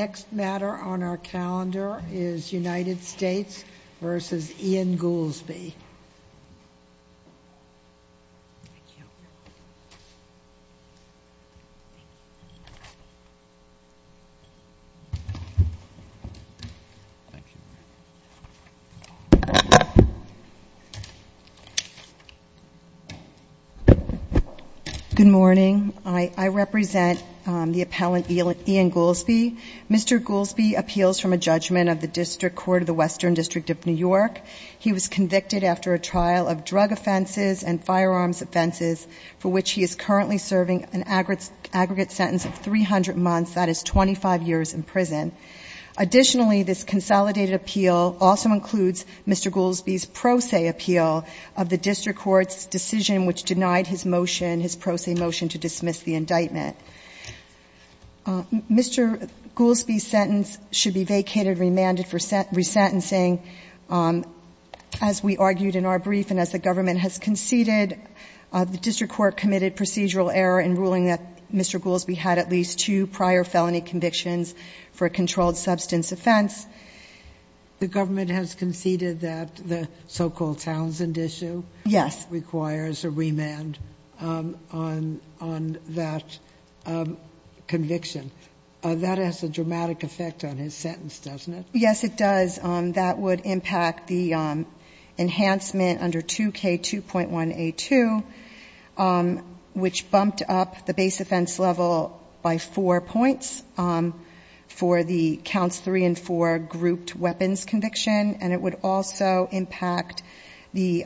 Goolsbee. The next matter on our calendar is United States v. Ian Goolsbee. Good morning. I represent the appellant Ian Goolsbee. Mr. Goolsbee appeals from a judgment of the District Court of the Western District of New York. He was convicted after a trial of drug offenses and firearms offenses for which he is currently serving an aggregate sentence of 300 months, that is 25 years in prison. Additionally, this consolidated appeal also includes Mr. Goolsbee's pro se appeal of the District Court's decision which denied his motion, his pro se motion to dismiss the indictment. Mr. Goolsbee's sentence should be vacated, remanded for a remand. As we argued in our brief and as the government has conceded, the District Court committed procedural error in ruling that Mr. Goolsbee had at least two prior felony convictions for a controlled substance offense. The government has conceded that the so-called Townsend issue requires a remand on that conviction. That has a dramatic effect on his sentence, doesn't it? Yes, it does. That would impact the enhancement under 2K2.1A2 which bumped up the base offense level by 4 points for the counts 3 and 4 grouped weapons conviction and it would also impact the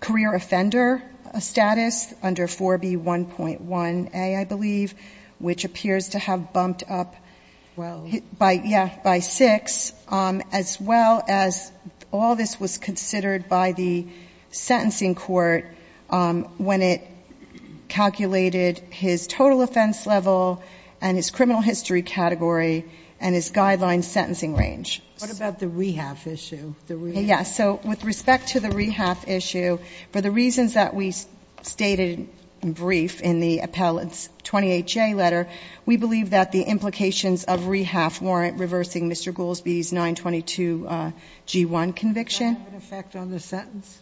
career offender status under 4B1.1A, I believe, which appears to have bumped up by 6 as well as all this was considered by the sentencing court when it calculated his total offense level and his criminal history category and his guideline sentencing range. What about the rehab issue? With respect to the rehab issue, for the reasons that we stated in brief in the appellate's 20HA letter, we believe that the implications of rehab warrant reversing Mr. Goolsbee's 922G1 conviction. Does that have an effect on the sentence?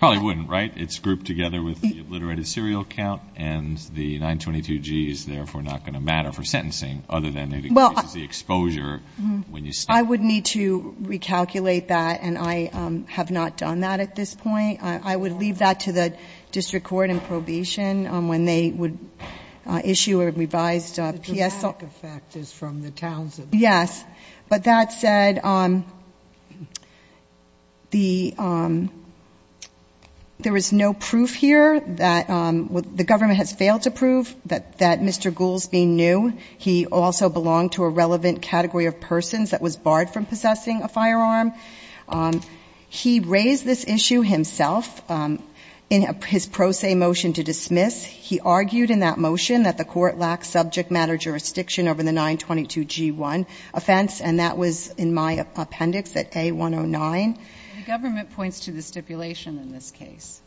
Probably wouldn't, right? It's grouped together with the obliterated serial count and the 922G is therefore not going to matter for sentencing other than it increases the exposure when you state it. I would need to recalculate that and I would leave that to the district court in probation when they would issue a revised PSL. Yes, but that said, there is no proof here that the government has failed to prove that Mr. Goolsbee knew he also belonged to a relevant category of persons that was barred from possessing a firearm. He raised this issue himself in his pro se motion to dismiss. He argued in that motion that the court lacked subject matter jurisdiction over the 922G1 offense and that was in my appendix at A109. The government points to the stipulation in this case.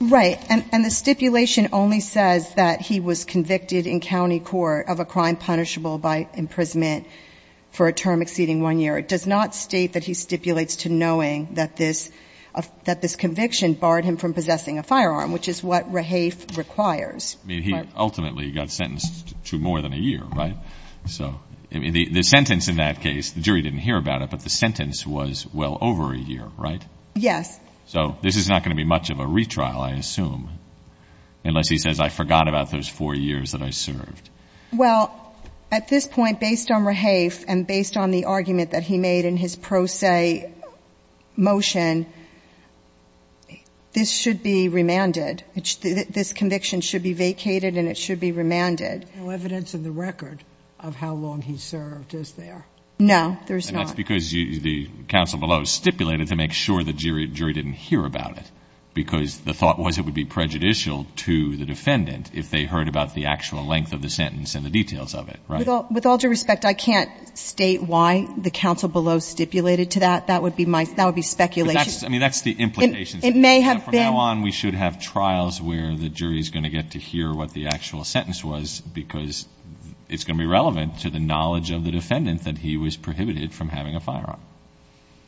Right. And the stipulation only says that he was convicted in county court of a crime punishable by imprisonment for a term that stipulates to knowing that this conviction barred him from possessing a firearm, which is what Rahafe requires. He ultimately got sentenced to more than a year, right? The sentence in that case, the jury didn't hear about it, but the sentence was well over a year, right? Yes. So this is not going to be much of a retrial, I assume, unless he says I forgot about those four years that I served. Well, at this point, based on Rahafe and based on the pro se motion, this should be remanded. This conviction should be vacated and it should be remanded. There's no evidence in the record of how long he served, is there? No, there's not. And that's because the counsel below stipulated to make sure the jury didn't hear about it because the thought was it would be prejudicial to the defendant if they heard about the actual length of the sentence and the details of it, right? With all due respect, I can't state why the counsel below stipulated to that. That would be speculation. I mean, that's the implication. From now on, we should have trials where the jury is going to get to hear what the actual sentence was because it's going to be relevant to the knowledge of the defendant that he was prohibited from having a firearm.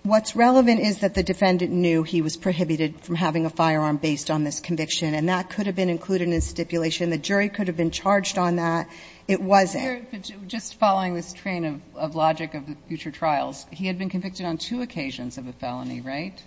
What's relevant is that the defendant knew he was prohibited from having a firearm based on this conviction, and that could have been included in the stipulation. The jury could have been charged on that. It wasn't. But just following this train of logic of the future trials, he had been convicted on two occasions of a felony, right?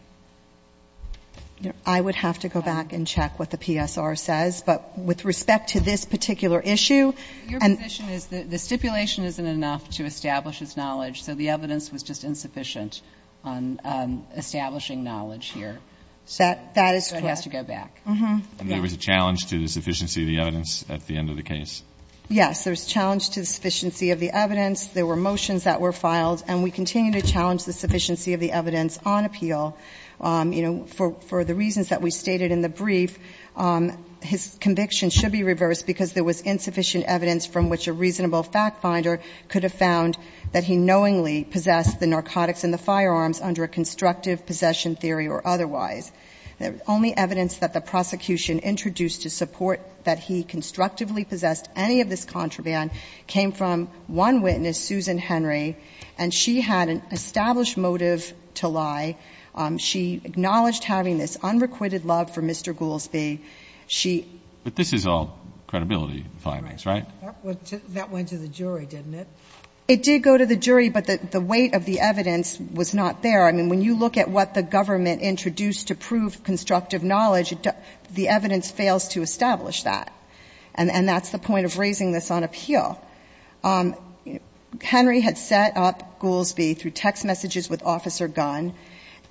I would have to go back and check what the PSR says. But with respect to this particular issue, and the position is that the stipulation isn't enough to establish his knowledge, so the evidence was just insufficient on establishing knowledge here. That is correct. So it has to go back. And there was a challenge to the sufficiency of the evidence at the end of the case. Yes. There was a challenge to the sufficiency of the evidence. There were motions that were filed, and we continue to challenge the sufficiency of the evidence on appeal. You know, for the reasons that we stated in the brief, his conviction should be reversed because there was insufficient evidence from which a reasonable fact finder could have found that he knowingly possessed the narcotics in the firearms under a constructive possession theory or otherwise. The only evidence that the prosecution introduced to support that he constructively possessed any of this contraband came from one witness, Susan Henry, and she had an established motive to lie. She acknowledged having this unrequited love for Mr. Goolsbee. She ---- But this is all credibility findings, right? That went to the jury, didn't it? It did go to the jury, but the weight of the evidence was not there. I mean, when you look at what the government introduced to prove constructive knowledge, the evidence fails to establish that. And that's the point of raising this on appeal. Henry had set up Goolsbee through text messages with Officer Gunn,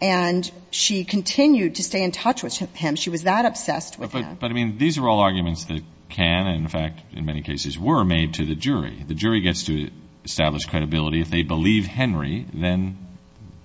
and she continued to stay in touch with him. She was that obsessed with him. But, I mean, these are all arguments that can and, in fact, in many cases were made to the jury. The jury gets to establish credibility. If they believe Henry, then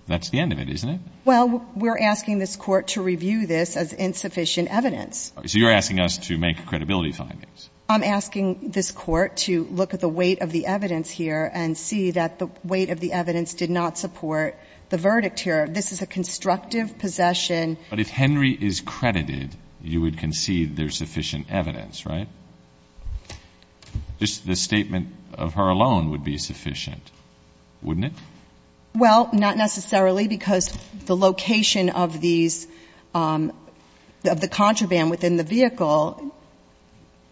that's the end of it, isn't it? Well, we're asking this Court to review this as insufficient evidence. So you're asking us to make credibility findings. I'm asking this Court to look at the weight of the evidence here and see that the weight of the evidence did not support the verdict here. This is a constructive possession. But if Henry is credited, you would concede there's sufficient evidence, right? Just the statement of her alone would be sufficient, wouldn't it? Well, not necessarily, because the location of these – of the contraband within the vehicle,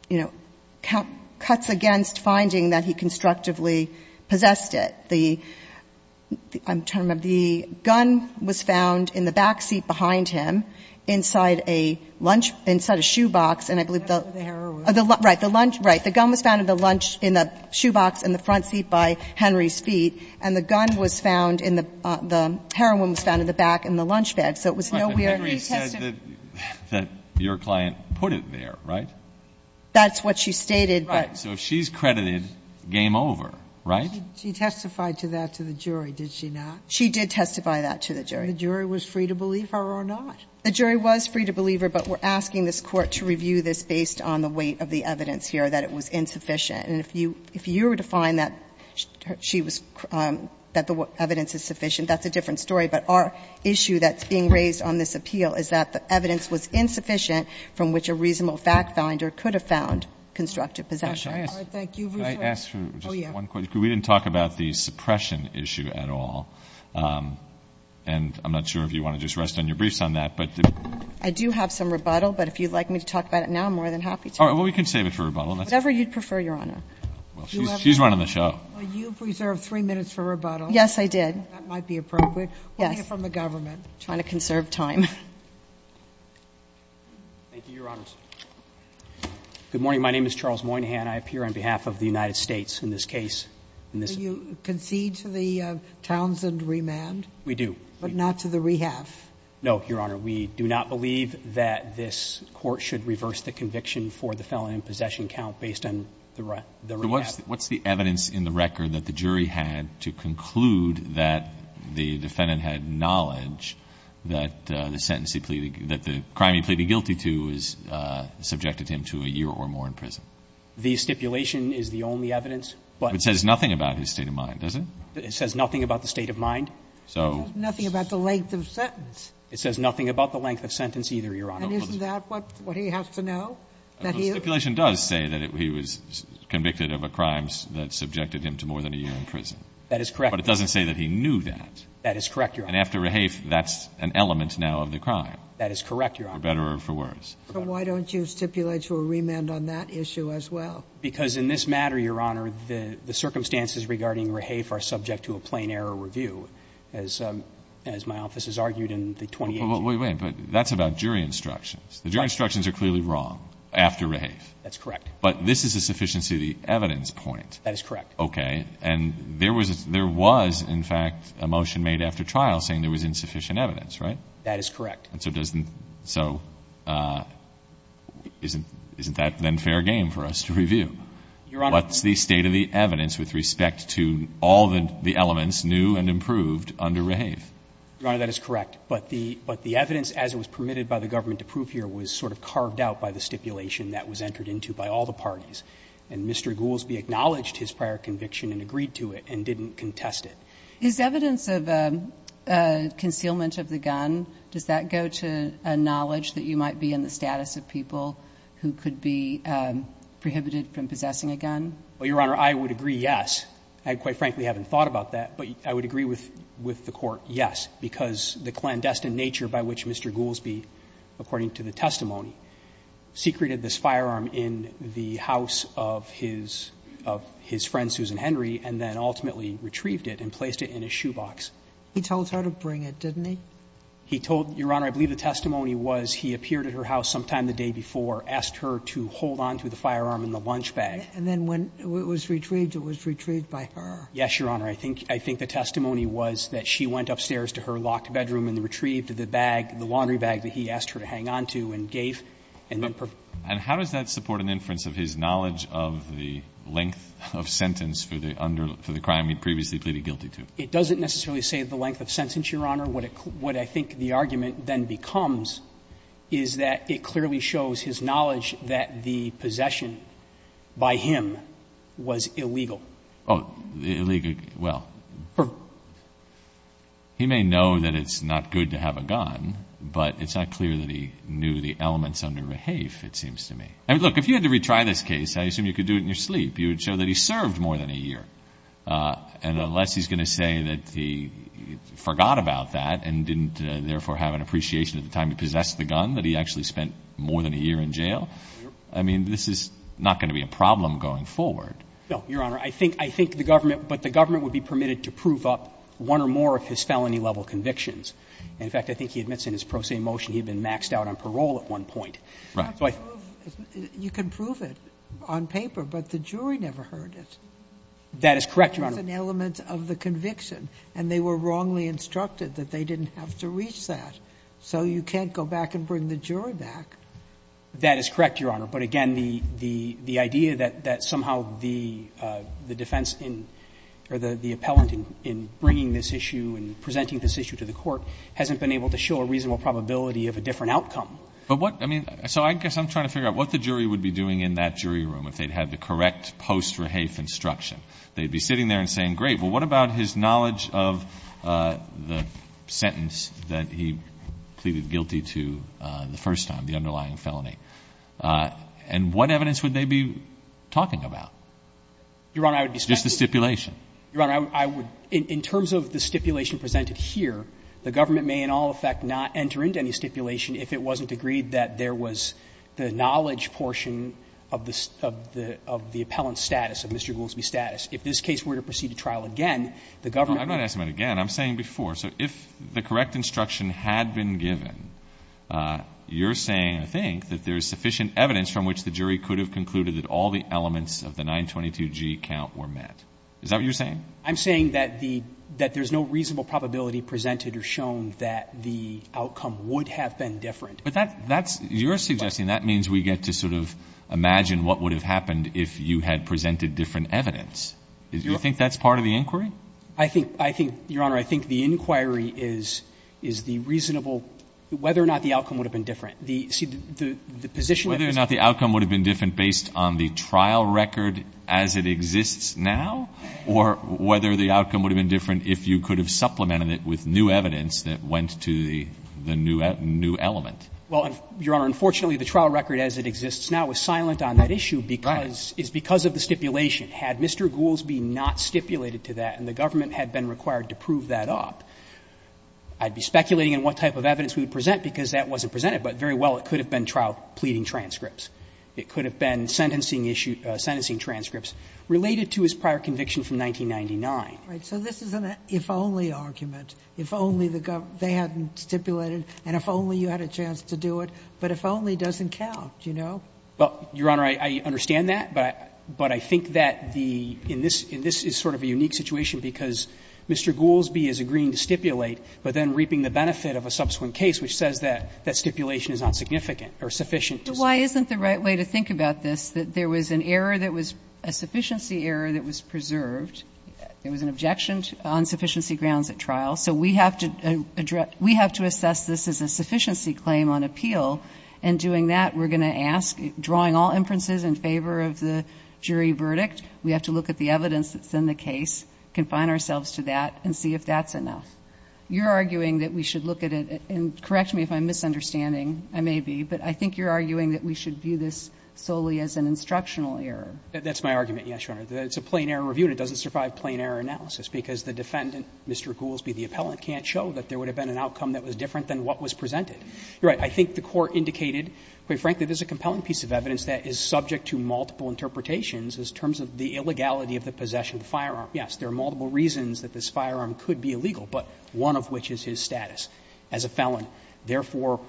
you know, cuts against finding that he constructively possessed it. The – I'm trying to remember. The gun was found in the back seat behind him inside a lunch – inside a shoebox, and I believe the – The arrow was. Right. The lunch – right. The gun was found in the lunch – in the shoebox in the front seat by Henry's feet, and the gun was found in the – the heroin was found in the back in the lunch bag. So it was no where near tested. But Henry said that your client put it there, right? That's what she stated. Right. So if she's credited, game over, right? She testified to that to the jury, did she not? She did testify that to the jury. The jury was free to believe her or not? The jury was free to believe her, but we're asking this Court to review this based on the weight of the evidence here that it was insufficient. And if you – if you were to find that she was – that the evidence is sufficient, that's a different story. But our issue that's being raised on this appeal is that the evidence was insufficient from which a reasonable fact finder could have found constructive possession. Can I ask – All right. Thank you. Can I ask you just one question? Oh, yeah. Because we didn't talk about the suppression issue at all, and I'm not sure if you want to just rest on your briefs on that. I do have some rebuttal, but if you'd like me to talk about it now, I'm more than happy to. All right. Well, we can save it for rebuttal. Whatever you'd prefer, Your Honor. Well, she's running the show. Well, you've reserved three minutes for rebuttal. Yes, I did. That might be appropriate. Yes. We'll hear from the government. Trying to conserve time. Thank you, Your Honors. Good morning. My name is Charles Moynihan. I appear on behalf of the United States in this case. Do you concede to the Townsend remand? We do. But not to the rehab? No, Your Honor. We do not believe that this Court should reverse the conviction for the felon in possession count based on the rehab. What's the evidence in the record that the jury had to conclude that the defendant had knowledge that the sentence he pleaded, that the crime he pleaded guilty to has subjected him to a year or more in prison? The stipulation is the only evidence. But it says nothing about his state of mind, does it? It says nothing about the state of mind. It says nothing about the length of the sentence. It says nothing about the length of sentence either, Your Honor. And isn't that what he has to know? The stipulation does say that he was convicted of a crime that subjected him to more than a year in prison. That is correct. But it doesn't say that he knew that. That is correct, Your Honor. And after rehab, that's an element now of the crime. That is correct, Your Honor. For better or for worse. So why don't you stipulate your remand on that issue as well? Because in this matter, Your Honor, the circumstances regarding rehab are subject to a plain error review. As my office has argued in the 2018. Well, wait, wait. That's about jury instructions. The jury instructions are clearly wrong after rehab. That's correct. But this is a sufficiency of the evidence point. That is correct. Okay. And there was, in fact, a motion made after trial saying there was insufficient evidence, right? That is correct. And so doesn't so isn't that then fair game for us to review? Your Honor. What's the state of the evidence with respect to all the elements new and improved under rehab? Your Honor, that is correct. But the evidence, as it was permitted by the government to prove here, was sort of carved out by the stipulation that was entered into by all the parties. And Mr. Goolsbee acknowledged his prior conviction and agreed to it and didn't contest it. Is evidence of concealment of the gun, does that go to a knowledge that you might be in the status of people who could be prohibited from possessing a gun? Well, Your Honor, I would agree, yes. I quite frankly haven't thought about that. But I would agree with the Court, yes, because the clandestine nature by which Mr. Goolsbee, according to the testimony, secreted this firearm in the house of his friend, Susan Henry, and then ultimately retrieved it and placed it in his shoebox. He told her to bring it, didn't he? He told her, Your Honor, I believe the testimony was he appeared at her house sometime the day before, asked her to hold on to the firearm in the lunch bag. And then when it was retrieved, it was retrieved by her. Yes, Your Honor. I think the testimony was that she went upstairs to her locked bedroom and retrieved the bag, the laundry bag that he asked her to hang on to and gave. And then provided it. And how does that support an inference of his knowledge of the length of sentence for the crime he previously pleaded guilty to? It doesn't necessarily say the length of sentence, Your Honor. What I think the argument then becomes is that it clearly shows his knowledge that the possession by him was illegal. Oh, illegal. Well, he may know that it's not good to have a gun, but it's not clear that he knew the elements under rehafe, it seems to me. I mean, look, if you had to retry this case, I assume you could do it in your sleep. You would show that he served more than a year. And unless he's going to say that he forgot about that and didn't therefore have an appreciation at the time to possess the gun, that he actually spent more than a year in jail, I mean, this is not going to be a problem going forward. No, Your Honor. I think the government, but the government would be permitted to prove up one or more of his felony-level convictions. In fact, I think he admits in his pro se motion he had been maxed out on parole at one point. Right. You can prove it on paper, but the jury never heard it. That is correct, Your Honor. It was an element of the conviction. And they were wrongly instructed that they didn't have to reach that. So you can't go back and bring the jury back. That is correct, Your Honor. But, again, the idea that somehow the defense in or the appellant in bringing this issue and presenting this issue to the court hasn't been able to show a reasonable probability of a different outcome. But what, I mean, so I guess I'm trying to figure out what the jury would be doing in that jury room if they'd had the correct post-rehafe instruction. They'd be sitting there and saying, great, well, what about his knowledge of the sentence that he pleaded guilty to the first time, the underlying felony? And what evidence would they be talking about? Your Honor, I would be speculating. Just the stipulation. Your Honor, I would, in terms of the stipulation presented here, the government may in all effect not enter into any stipulation if it wasn't agreed that there was the knowledge portion of the appellant's status, of Mr. Goolsbee's status. If this case were to proceed to trial again, the government would. I'm not asking about again. I'm saying before. So if the correct instruction had been given, you're saying, I think, that there is sufficient evidence from which the jury could have concluded that all the elements of the 922G count were met. Is that what you're saying? I'm saying that there's no reasonable probability presented or shown that the outcome would have been different. But that's you're suggesting. That means we get to sort of imagine what would have happened if you had presented different evidence. Do you think that's part of the inquiry? I think, Your Honor, I think the inquiry is the reasonable, whether or not the outcome would have been different. See, the position that this is. Whether or not the outcome would have been different based on the trial record as it exists now? Or whether the outcome would have been different if you could have supplemented it with new evidence that went to the new element? Well, Your Honor, unfortunately, the trial record as it exists now is silent on that issue because, is because of the stipulation. Had Mr. Gouldsby not stipulated to that and the government had been required to prove that up, I'd be speculating on what type of evidence we would present because that wasn't presented. But very well, it could have been trial pleading transcripts. It could have been sentencing issue, sentencing transcripts related to his prior conviction from 1999. Right. So this is an if-only argument. If only the government, they hadn't stipulated, and if only you had a chance to do it. But if only doesn't count, you know? Well, Your Honor, I understand that. But I think that the, and this is sort of a unique situation because Mr. Gouldsby is agreeing to stipulate, but then reaping the benefit of a subsequent case which says that stipulation is not significant or sufficient. But why isn't the right way to think about this, that there was an error that was, a sufficiency error that was preserved. There was an objection on sufficiency grounds at trial. So we have to address, we have to assess this as a sufficiency claim on appeal. And doing that, we're going to ask, drawing all inferences in favor of the jury verdict, we have to look at the evidence that's in the case, confine ourselves to that, and see if that's enough. You're arguing that we should look at it, and correct me if I'm misunderstanding. I may be. But I think you're arguing that we should view this solely as an instructional error. That's my argument, yes, Your Honor. It's a plain error review, and it doesn't survive plain error analysis, because the defendant, Mr. Gouldsby, the appellant, can't show that there would have been an outcome that was different than what was presented. You're right. I think the Court indicated, quite frankly, this is a compelling piece of evidence that is subject to multiple interpretations as terms of the illegality of the possession of the firearm. Yes, there are multiple reasons that this firearm could be illegal, but one of which is his status as a felon, therefore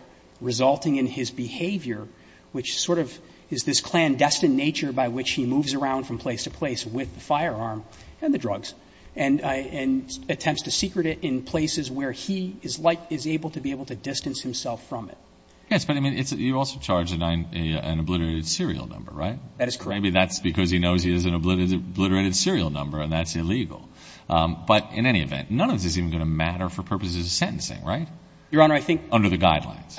resulting in his behavior, which sort of is this where he moves around from place to place with the firearm and the drugs, and attempts to secret it in places where he is able to be able to distance himself from it. Yes, but I mean, you also charge an obliterated serial number, right? That is correct. Maybe that's because he knows he has an obliterated serial number, and that's illegal. But in any event, none of this is even going to matter for purposes of sentencing, right? Your Honor, I think under the guidelines.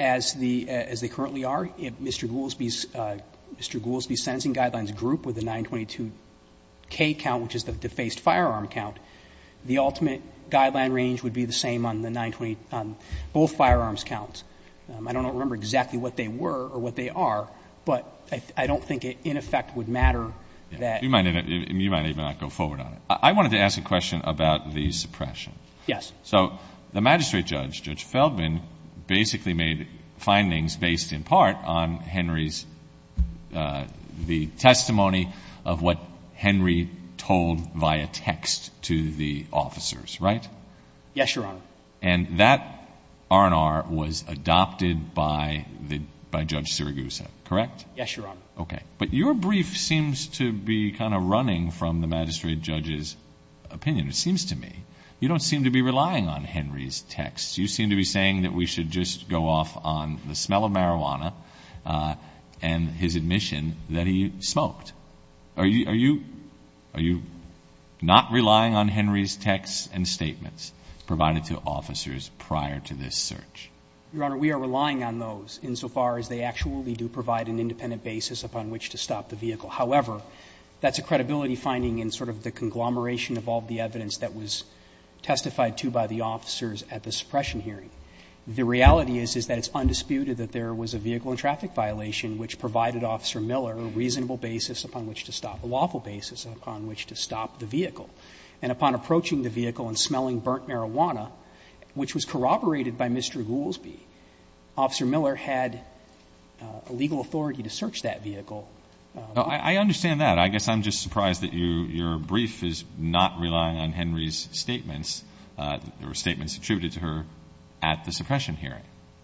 As they currently are, Mr. Goolsby's sentencing guidelines group with the 922K count, which is the defaced firearm count, the ultimate guideline range would be the same on the 920, on both firearms counts. I don't remember exactly what they were or what they are, but I don't think it in effect would matter that. You might even not go forward on it. I wanted to ask a question about the suppression. Yes. So the magistrate judge, Judge Feldman, basically made findings based in part on Henry's testimony of what Henry told via text to the officers, right? Yes, Your Honor. And that R&R was adopted by Judge Sirigusa, correct? Yes, Your Honor. Okay. But your brief seems to be kind of running from the magistrate judge's opinion, it seems to me. You don't seem to be relying on Henry's texts. You seem to be saying that we should just go off on the smell of marijuana and his admission that he smoked. Are you not relying on Henry's texts and statements provided to officers prior to this search? Your Honor, we are relying on those insofar as they actually do provide an independent basis upon which to stop the vehicle. However, that's a credibility finding in sort of the conglomeration of all the evidence that was testified to by the officers at the suppression hearing. The reality is that it's undisputed that there was a vehicle and traffic violation which provided Officer Miller a reasonable basis upon which to stop, a lawful basis upon which to stop the vehicle. And upon approaching the vehicle and smelling burnt marijuana, which was corroborated by Mr. Goolsbee, Officer Miller had a legal authority to search that vehicle. I understand that. But I guess I'm just surprised that your brief is not relying on Henry's statements or statements attributed to her at the suppression hearing.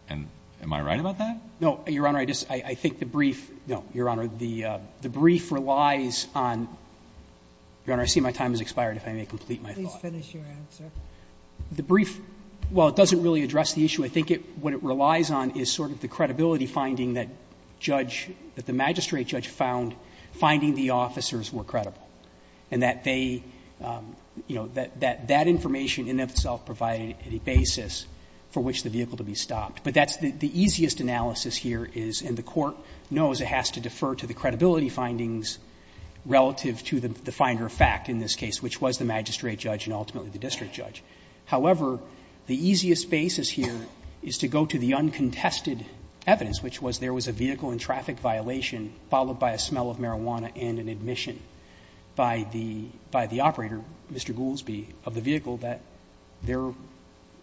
And am I right about that? No, Your Honor. I think the brief relies on the brief relies on the brief relies on the brief relies on the evidence that the officers were credible and that they, you know, that that information in itself provided a basis for which the vehicle to be stopped. But that's the easiest analysis here is, and the court knows it has to defer to the credibility findings relative to the finder of fact in this case, which was the magistrate judge and ultimately the district judge. However, the easiest basis here is to go to the uncontested evidence, which was there was a vehicle and traffic violation followed by a smell of marijuana and an admission by the operator, Mr. Goolsbee, of the vehicle that there,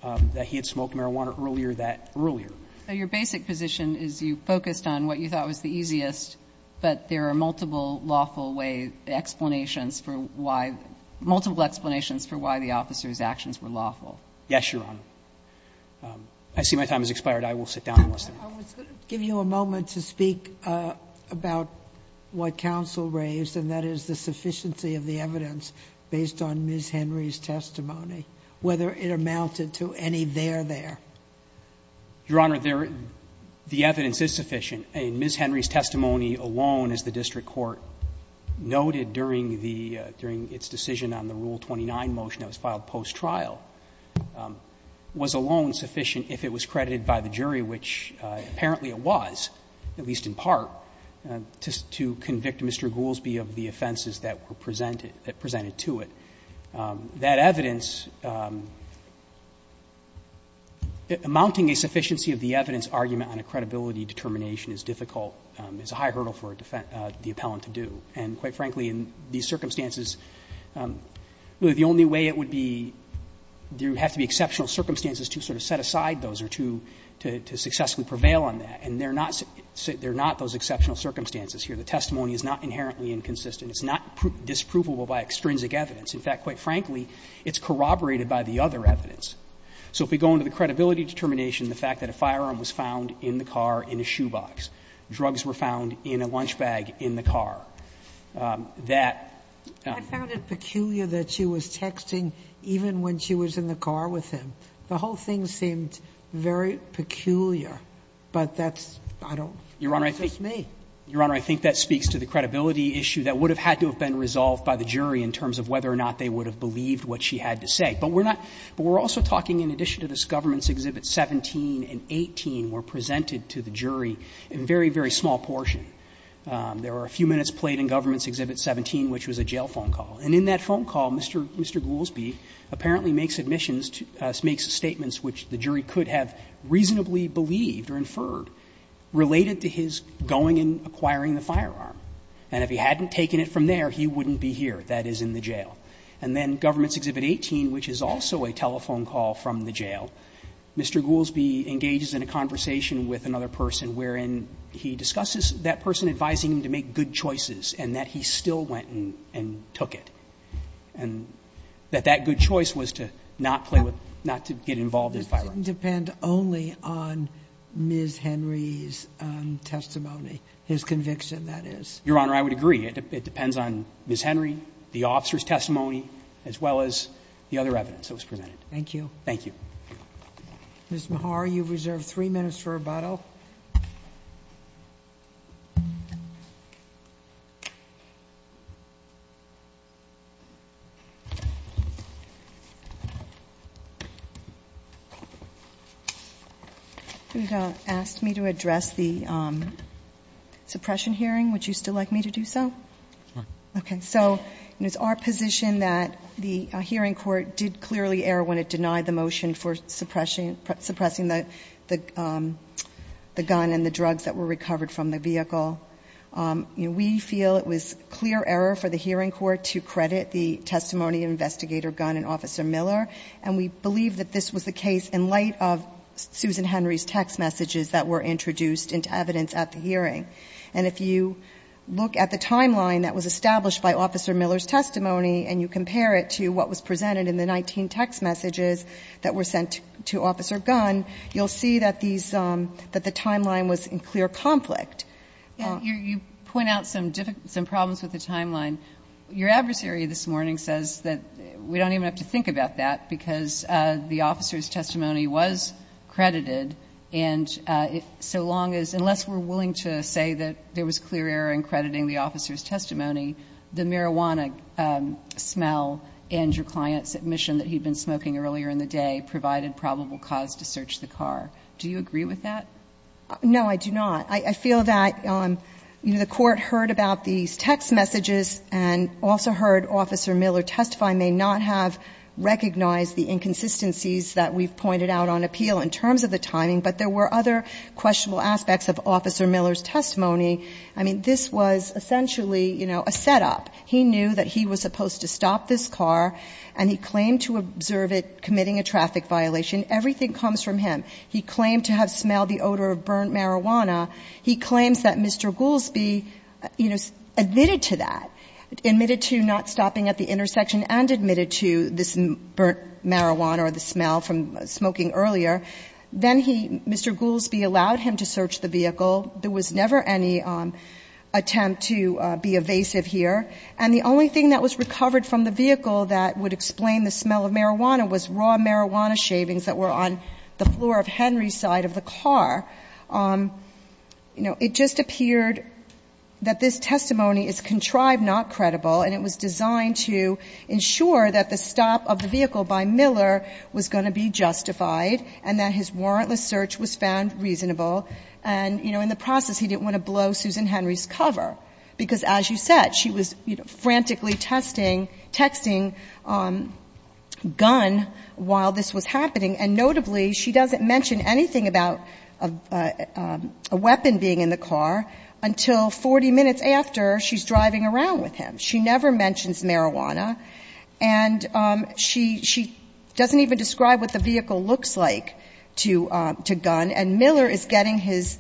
that he had smoked marijuana earlier that earlier. So your basic position is you focused on what you thought was the easiest, but there are multiple lawful way explanations for why, multiple explanations for why the officer's actions were lawful. Yes, Your Honor. I see my time has expired. I will sit down and listen. I was going to give you a moment to speak about what counsel raised, and that is the sufficiency of the evidence based on Ms. Henry's testimony, whether it amounted to any there there. Your Honor, there, the evidence is sufficient. Ms. Henry's testimony alone, as the district court noted during the, during its decision on the Rule 29 motion that was filed post-trial, was alone sufficient if it was credited by the jury, which apparently it was, at least in part, to convict Mr. Goolsbee of the offenses that were presented, that presented to it. That evidence, amounting a sufficiency of the evidence argument on a credibility determination is difficult, is a high hurdle for the appellant to do. And quite frankly, in these circumstances, the only way it would be, there would have to be exceptional circumstances to sort of set aside those or to, to successfully prevail on that. And they're not, they're not those exceptional circumstances here. The testimony is not inherently inconsistent. It's not disprovable by extrinsic evidence. In fact, quite frankly, it's corroborated by the other evidence. So if we go into the credibility determination, the fact that a firearm was found in the car in a shoebox, drugs were found in a lunch bag in the car, that. Sotomayor, I found it peculiar that she was texting even when she was in the car with him. The whole thing seemed very peculiar, but that's, I don't, that's just me. Your Honor, I think that speaks to the credibility issue that would have had to have been resolved by the jury in terms of whether or not they would have believed what she had to say. But we're not, but we're also talking in addition to this, Governments Exhibits 17 and 18 were presented to the jury in very, very small portion. There were a few minutes played in Governments Exhibit 17, which was a jail phone call. And in that phone call, Mr. Goolsbee apparently makes admissions, makes statements which the jury could have reasonably believed or inferred related to his going and acquiring the firearm. And if he hadn't taken it from there, he wouldn't be here, that is, in the jail. And then Governments Exhibit 18, which is also a telephone call from the jail, Mr. Goolsbee engages in a conversation with another person wherein he discusses that person advising him to make good choices and that he still went and took it. And that that good choice was to not play with, not to get involved in firearms. It didn't depend only on Ms. Henry's testimony, his conviction, that is. Your Honor, I would agree. It depends on Ms. Henry, the officer's testimony, as well as the other evidence that was presented. Thank you. Ms. Mehar, you've reserved three minutes for rebuttal. You've asked me to address the suppression hearing. Would you still like me to do so? Okay. So it's our position that the hearing court did clearly err when it denied the motion for suppressing the gun and the drugs that were recovered from the vehicle. We feel it was clear error for the hearing court to credit the testimony of Investigator Gunn and Officer Miller, and we believe that this was the case in light of Susan Henry's text messages that were introduced into evidence at the hearing. And if you look at the timeline that was established by Officer Miller's testimony and you compare it to what was presented in the 19 text messages that were sent to Officer Gunn, you'll see that these – that the timeline was in clear conflict. You point out some problems with the timeline. Your adversary this morning says that we don't even have to think about that because the officer's testimony was credited, and so long as – unless we're willing to say that there was clear error in crediting the officer's testimony, the marijuana smell and your client's admission that he'd been smoking earlier in the day provided probable cause to search the car. Do you agree with that? No, I do not. I feel that, you know, the Court heard about these text messages and also heard Officer Miller testify may not have recognized the inconsistencies that we've pointed out on appeal in terms of the timing, but there were other questionable aspects of Officer Miller's testimony. I mean, this was essentially, you know, a setup. He knew that he was supposed to stop this car, and he claimed to observe it committing a traffic violation. Everything comes from him. He claimed to have smelled the odor of burnt marijuana. He claims that Mr. Goolsbee, you know, admitted to that, admitted to not stopping at the intersection and admitted to this burnt marijuana or the smell from smoking earlier. Then he – Mr. Goolsbee allowed him to search the vehicle. There was never any attempt to be evasive here. And the only thing that was recovered from the vehicle that would explain the smell of marijuana was raw marijuana shavings that were on the floor of Henry's side of the car. You know, it just appeared that this testimony is contrived, not credible, and it was designed to ensure that the stop of the vehicle by Miller was going to be justified and that his warrantless search was found reasonable. And, you know, in the process, he didn't want to blow Susan Henry's cover, because as you said, she was, you know, frantically testing – texting Gunn while this was happening. And notably, she doesn't mention anything about a weapon being in the car until 40 minutes after she's driving around with him. She never mentions marijuana, and she doesn't even describe what the vehicle looks like to Gunn. And Miller is getting his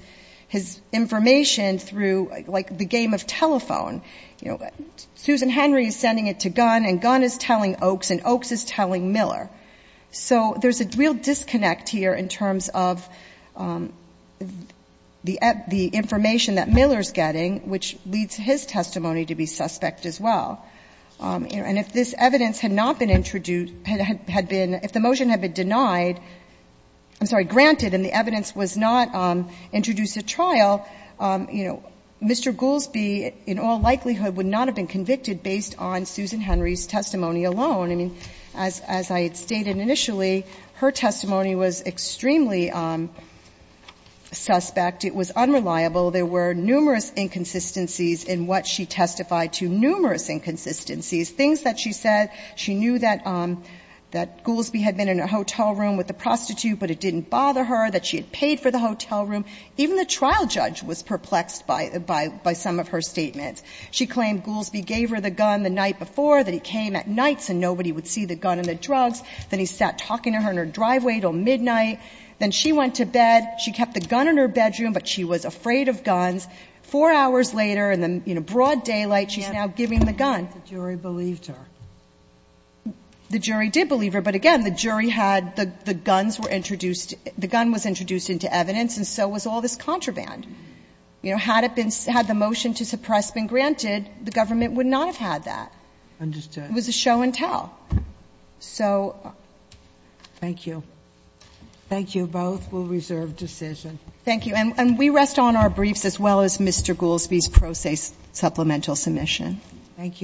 information through, like, the game of telephone. You know, Susan Henry is sending it to Gunn, and Gunn is telling Oakes, and Oakes is telling Miller. So there's a real disconnect here in terms of the information that Miller's getting, which leads his testimony to be suspect as well. And if this evidence had not been introduced – had been – if the motion had been denied – I'm sorry, granted, and the evidence was not introduced at trial, you know, Mr. Goolsbee in all likelihood would not have been convicted based on Susan Henry's testimony alone. I mean, as I had stated initially, her testimony was extremely suspect. It was unreliable. There were numerous inconsistencies in what she testified to, numerous inconsistencies. Things that she said, she knew that Goolsbee had been in a hotel room with a prostitute, but it didn't bother her, that she had paid for the hotel room. Even the trial judge was perplexed by some of her statements. She claimed Goolsbee gave her the gun the night before, that he came at night so nobody would see the gun and the drugs. Then he sat talking to her in her driveway until midnight. Then she went to bed. She kept the gun in her bedroom, but she was afraid of guns. Four hours later, in a broad daylight, she's now giving the gun. And the jury believed her. The jury did believe her, but again, the jury had the guns were introduced the gun was introduced into evidence, and so was all this contraband. You know, had it been, had the motion to suppress been granted, the government would not have had that. Understood. It was a show and tell. So. Thank you. Thank you both. We'll reserve decision. Thank you. And we rest on our briefs as well as Mr. Goolsbee's pro se supplemental submission. Thank you.